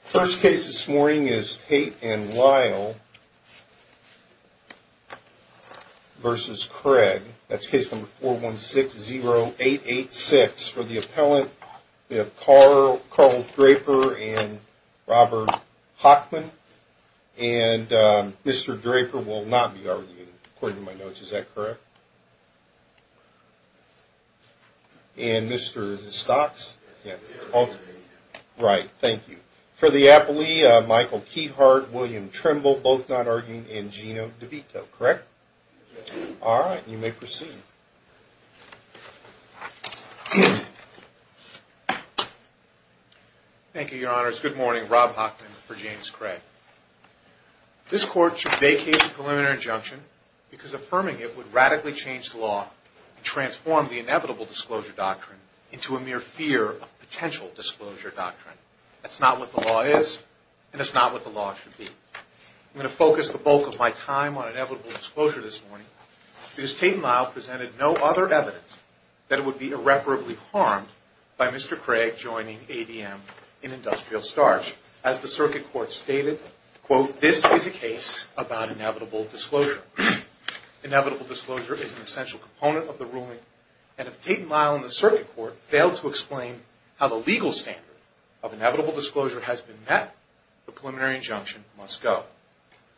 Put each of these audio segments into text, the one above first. First case this morning is Tate and Lyle v. Craig. That's case number 416-0886 for the appellant Carl Draper and Robert Hockman. And Mr. Draper will not be arguing according to my notes. Is that correct? And Mr. Stotz? Right, thank you. For the appellee Michael Keithart and William Trimble both not arguing and Gino DeVito, correct? All right, you may proceed. Thank you, your honors. Good morning. Rob Hockman for James Craig. This court should vacate the preliminary injunction because affirming it would radically change the law and transform the inevitable disclosure doctrine into a mere fear of potential disclosure doctrine. That's not what the law is and that's not what the law should be. I'm going to focus the bulk of my time on inevitable disclosure this morning because Tate and Lyle presented no other evidence that it would be irreparably harmed by Mr. Craig joining ADM in industrial starch. As the circuit court stated, quote, this is a case about inevitable disclosure. Inevitable disclosure is an essential component of the ruling. And if Tate and Lyle and the circuit court fail to explain how the legal standard of inevitable disclosure has been met, the preliminary injunction must go.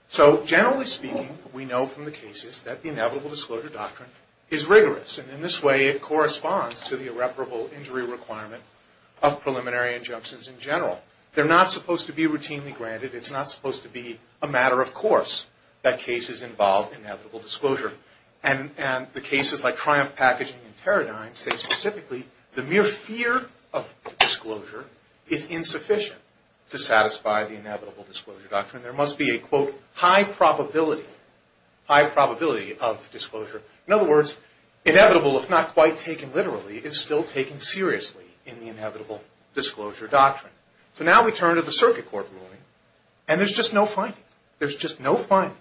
So generally speaking, we know from the cases that the inevitable disclosure doctrine is rigorous. And in this way it corresponds to the irreparable injury requirement of preliminary injunctions in general. They're not supposed to be routinely granted. It's not supposed to be a matter of course that cases involve inevitable disclosure. And the cases like Triumph Packaging and Teradyne say specifically the mere fear of disclosure is insufficient to satisfy the inevitable disclosure doctrine. There must be a, quote, high probability, high probability of disclosure. In other words, inevitable if not quite taken literally is still taken seriously in the inevitable disclosure doctrine. So now we turn to the circuit court ruling. And there's just no finding. There's just no finding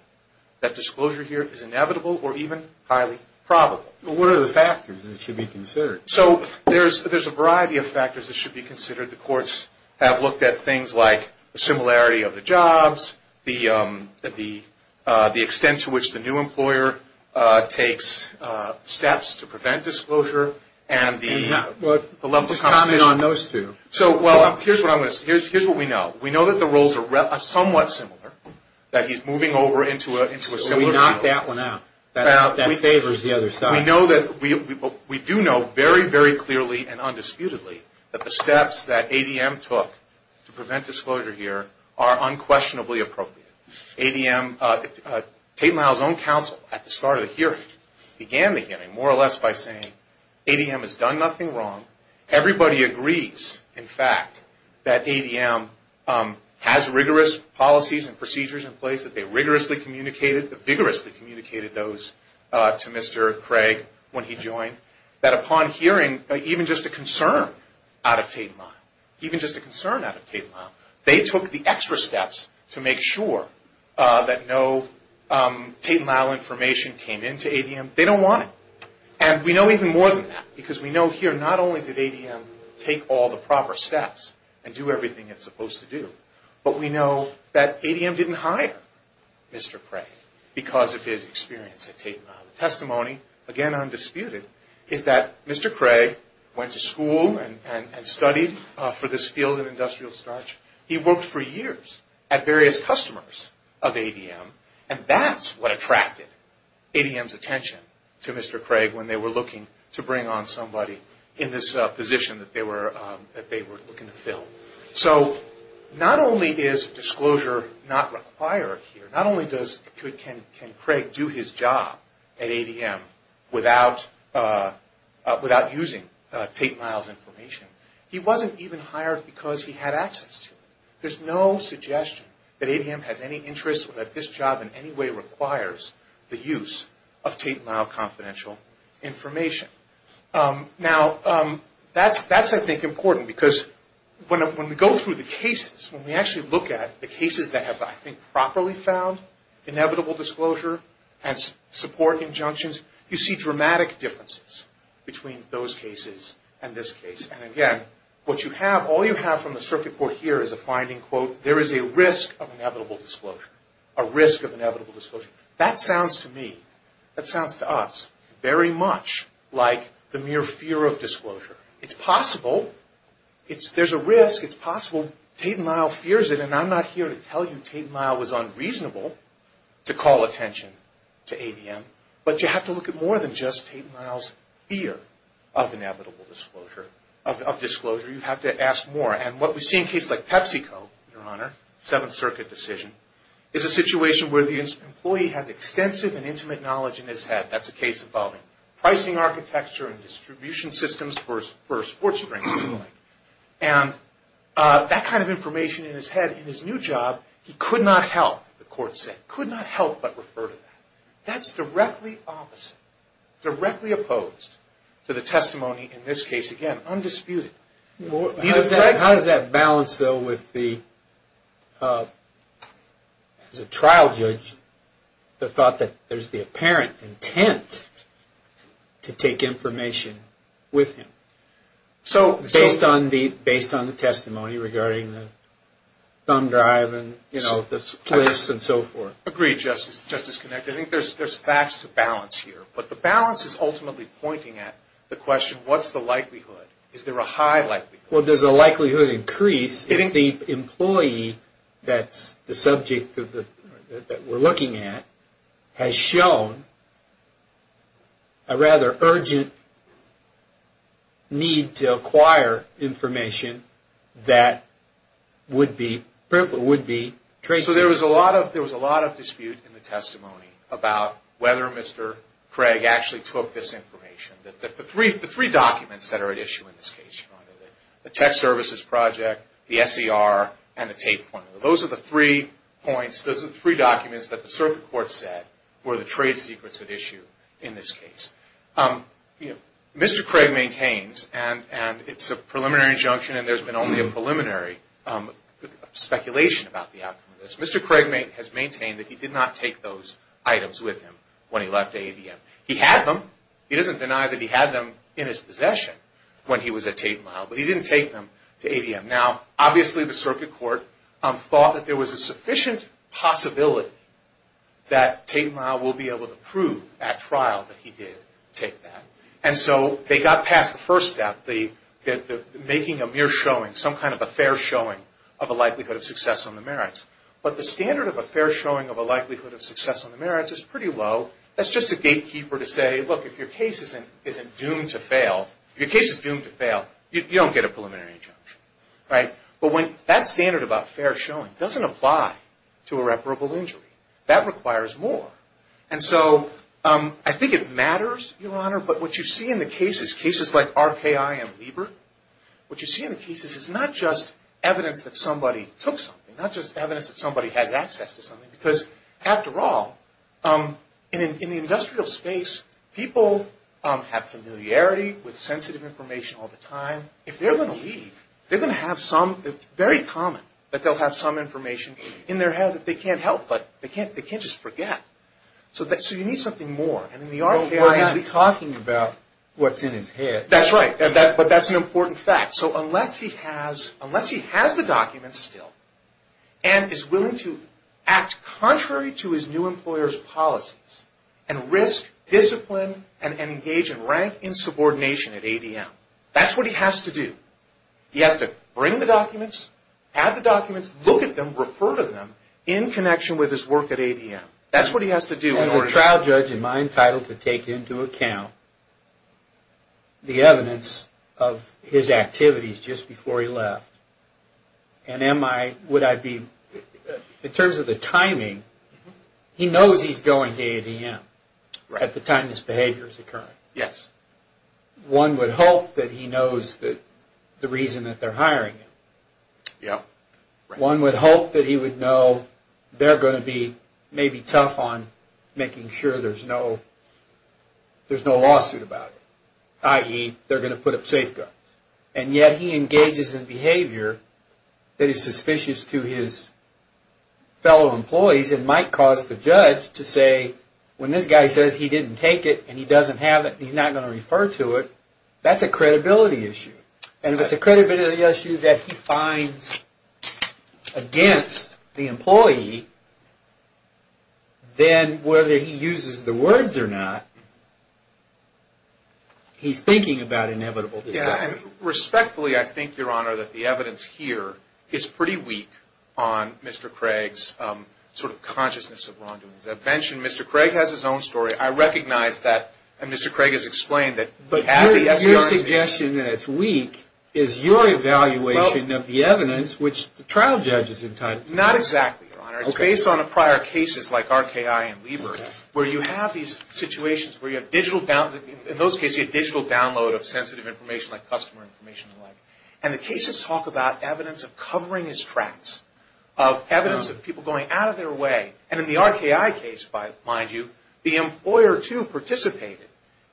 that disclosure here is inevitable or even highly probable. What are the factors that should be considered? The courts have looked at things like the similarity of the jobs, the extent to which the new employer takes steps to prevent disclosure, and the level of competition. Just comment on those two. So, well, here's what we know. We know that the roles are somewhat similar, that he's moving over into a similar field. So we knock that one out. That favors the other side. We know that we do know very, very clearly and undisputedly that the steps that ADM took to prevent disclosure here are unquestionably appropriate. ADM, Tate and Lyle's own counsel at the start of the hearing began the hearing more or less by saying ADM has done nothing wrong. Everybody agrees, in fact, that ADM has rigorous policies and procedures in place, that they rigorously communicated, vigorously communicated those to Mr. Craig when he joined, that upon hearing even just a concern out of Tate and Lyle, even just a concern out of Tate and Lyle, they took the extra steps to make sure that no Tate and Lyle information came into ADM. They don't want it. And we know even more than that because we know here not only did ADM take all the proper steps and do everything it's supposed to do, but we know that ADM didn't hire Mr. Craig because of his experience at Tate and Lyle. The testimony, again, undisputed, is that Mr. Craig went to school and studied for this field of industrial starch. He worked for years at various customers of ADM. And that's what attracted ADM's attention to Mr. Craig when they were looking to bring on somebody in this position that they were looking to fill. So not only is disclosure not required here, not only can Craig do his job at ADM without using Tate and Lyle's information, he wasn't even hired because he had access to it. There's no suggestion that ADM has any interest or that this job in any way requires the use of Tate and Lyle confidential information. Now, that's, I think, important because when we go through the cases, when we actually look at the cases that have, I think, properly found inevitable disclosure and support injunctions, you see dramatic differences between those cases and this case. And again, what you have, all you have from the circuit board here is a finding, quote, there is a risk of inevitable disclosure, a risk of inevitable disclosure. That sounds to me, that sounds to us very much like the mere fear of disclosure. It's possible. There's a risk. It's possible. Tate and Lyle fears it. And I'm not here to tell you Tate and Lyle was unreasonable to call attention to ADM. But you have to look at more than just Tate and Lyle's fear of inevitable disclosure, of disclosure. You have to ask more. And what we see in cases like PepsiCo, Your Honor, Seventh Circuit decision, is a situation where the employee has extensive and intimate knowledge in his head. That's a case involving pricing architecture and distribution systems for sports drinks. And that kind of information in his head, in his new job, he could not help, the court said, could not help but refer to that. That's directly opposite, directly opposed to the testimony in this case, again, undisputed. How does that balance, though, with the, as a trial judge, the thought that there's the apparent intent to take information with him, based on the testimony regarding the thumb drive and, you know, the place and so forth? Agreed, Justice Connick. I think there's facts to balance here. But the balance is ultimately pointing at the question, what's the likelihood? Is there a high likelihood? Well, does the likelihood increase if the employee that's the subject that we're looking at has shown a rather urgent need to acquire information that would be, would be traceable? So there was a lot of, there was a lot of dispute in the testimony about whether Mr. Craig actually took this information. The three documents that are at issue in this case, the tech services project, the SER, and the tape pointer, those are the three points, those are the three documents that the circuit court said were the trade secrets at issue in this case. Mr. Craig maintains, and it's a preliminary injunction, and there's been only a preliminary speculation about the outcome of this. Mr. Craig has maintained that he did not take those items with him when he left AVM. He had them. He doesn't deny that he had them in his possession when he was at Tate & Lyle, but he didn't take them to AVM. Now, obviously, the circuit court thought that there was a sufficient possibility that Tate & Lyle will be able to prove at trial that he did take that. And so they got past the first step, the making a mere showing, some kind of a fair showing of a likelihood of success on the merits. But the standard of a fair showing of a likelihood of success on the merits is pretty low. That's just a gatekeeper to say, look, if your case isn't doomed to fail, your case is doomed to fail, you don't get a preliminary injunction. But that standard about fair showing doesn't apply to irreparable injury. That requires more. And so I think it matters, Your Honor, but what you see in the cases, cases like RKI and Liebert, what you see in the cases is not just evidence that somebody took something, not just evidence that somebody has access to something, because, after all, in the industrial space, people have familiarity with sensitive information all the time. If they're going to leave, they're going to have some, it's very common that they'll have some information in their head that they can't help, but they can't just forget. So you need something more, and in the RKI... Well, he's not talking about what's in his head. That's right, but that's an important fact. So unless he has the documents still and is willing to act contrary to his new employer's policies and risk, discipline, and engage in rank insubordination at ADM, that's what he has to do. He has to bring the documents, have the documents, look at them, refer to them in connection with his work at ADM. That's what he has to do. As a trial judge, am I entitled to take into account the evidence of his activities just before he left? And am I, would I be, in terms of the timing, he knows he's going to ADM at the time this behavior is occurring. Yes. One would hope that he knows the reason that they're hiring him. Yep. One would hope that he would know they're going to be maybe tough on making sure there's no lawsuit about it, i.e., they're going to put up safeguards. And yet he engages in behavior that is suspicious to his fellow employees and might cause the judge to say, when this guy says he didn't take it and he doesn't have it and he's not going to refer to it, that's a credibility issue. And if it's a credibility issue that he finds against the employee, then whether he uses the words or not, he's thinking about inevitable disquality. Respectfully, I think, Your Honor, that the evidence here is pretty weak on Mr. Craig's sort of consciousness of wrongdoings. As I mentioned, Mr. Craig has his own story. I recognize that. And Mr. Craig has explained that. But your suggestion that it's weak is your evaluation of the evidence, which the trial judge is entitled to. Not exactly, Your Honor. Okay. It's based on prior cases like RKI and Lieber where you have these situations where you have digital, in those cases you have digital download of sensitive information like customer information and the like. And the cases talk about evidence of covering his tracks, of evidence of people going out of their way. And in the RKI case, mind you, the employer too participated,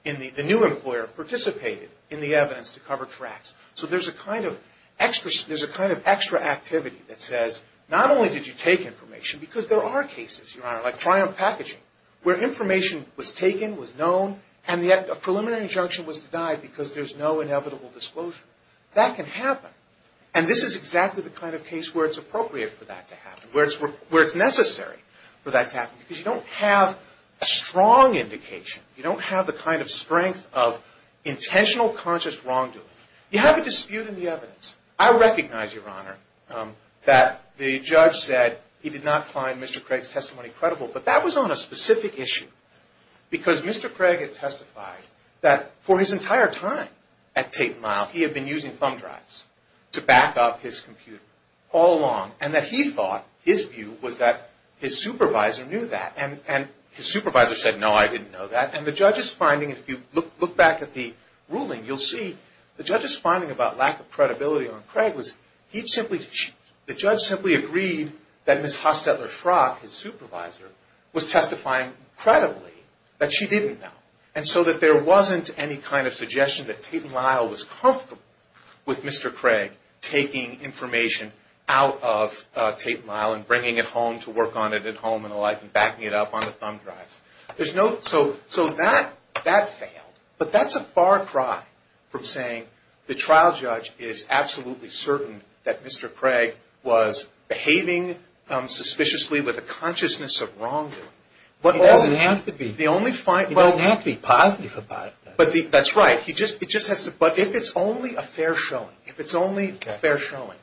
the new employer participated in the evidence to cover tracks. So there's a kind of extra activity that says not only did you take information, because there are cases, Your Honor, like Triumph Packaging where information was taken, was known, and a preliminary injunction was denied because there's no inevitable disclosure. That can happen. And this is exactly the kind of case where it's appropriate for that to happen, where it's necessary. Because you don't have a strong indication. You don't have the kind of strength of intentional, conscious wrongdoing. You have a dispute in the evidence. I recognize, Your Honor, that the judge said he did not find Mr. Craig's testimony credible, but that was on a specific issue because Mr. Craig had testified that for his entire time at Tate & Lyle, he had been using thumb drives to back up his computer all along, and that he thought, his view was that his supervisor knew that. And his supervisor said, no, I didn't know that. And the judge's finding, if you look back at the ruling, you'll see the judge's finding about lack of credibility on Craig was he simply, the judge simply agreed that Ms. Hostetler-Schrock, his supervisor, was testifying credibly, that she didn't know. And so that there wasn't any kind of suggestion that Tate & Lyle was comfortable with Mr. Craig taking information out of Tate & Lyle and bringing it home to work on it at home and the like and backing it up on the thumb drives. So that failed. But that's a far cry from saying the trial judge is absolutely certain that Mr. Craig was behaving suspiciously with a consciousness of wrongdoing. He doesn't have to be positive about it. That's right. But if it's only a fair showing, if it's only a fair showing.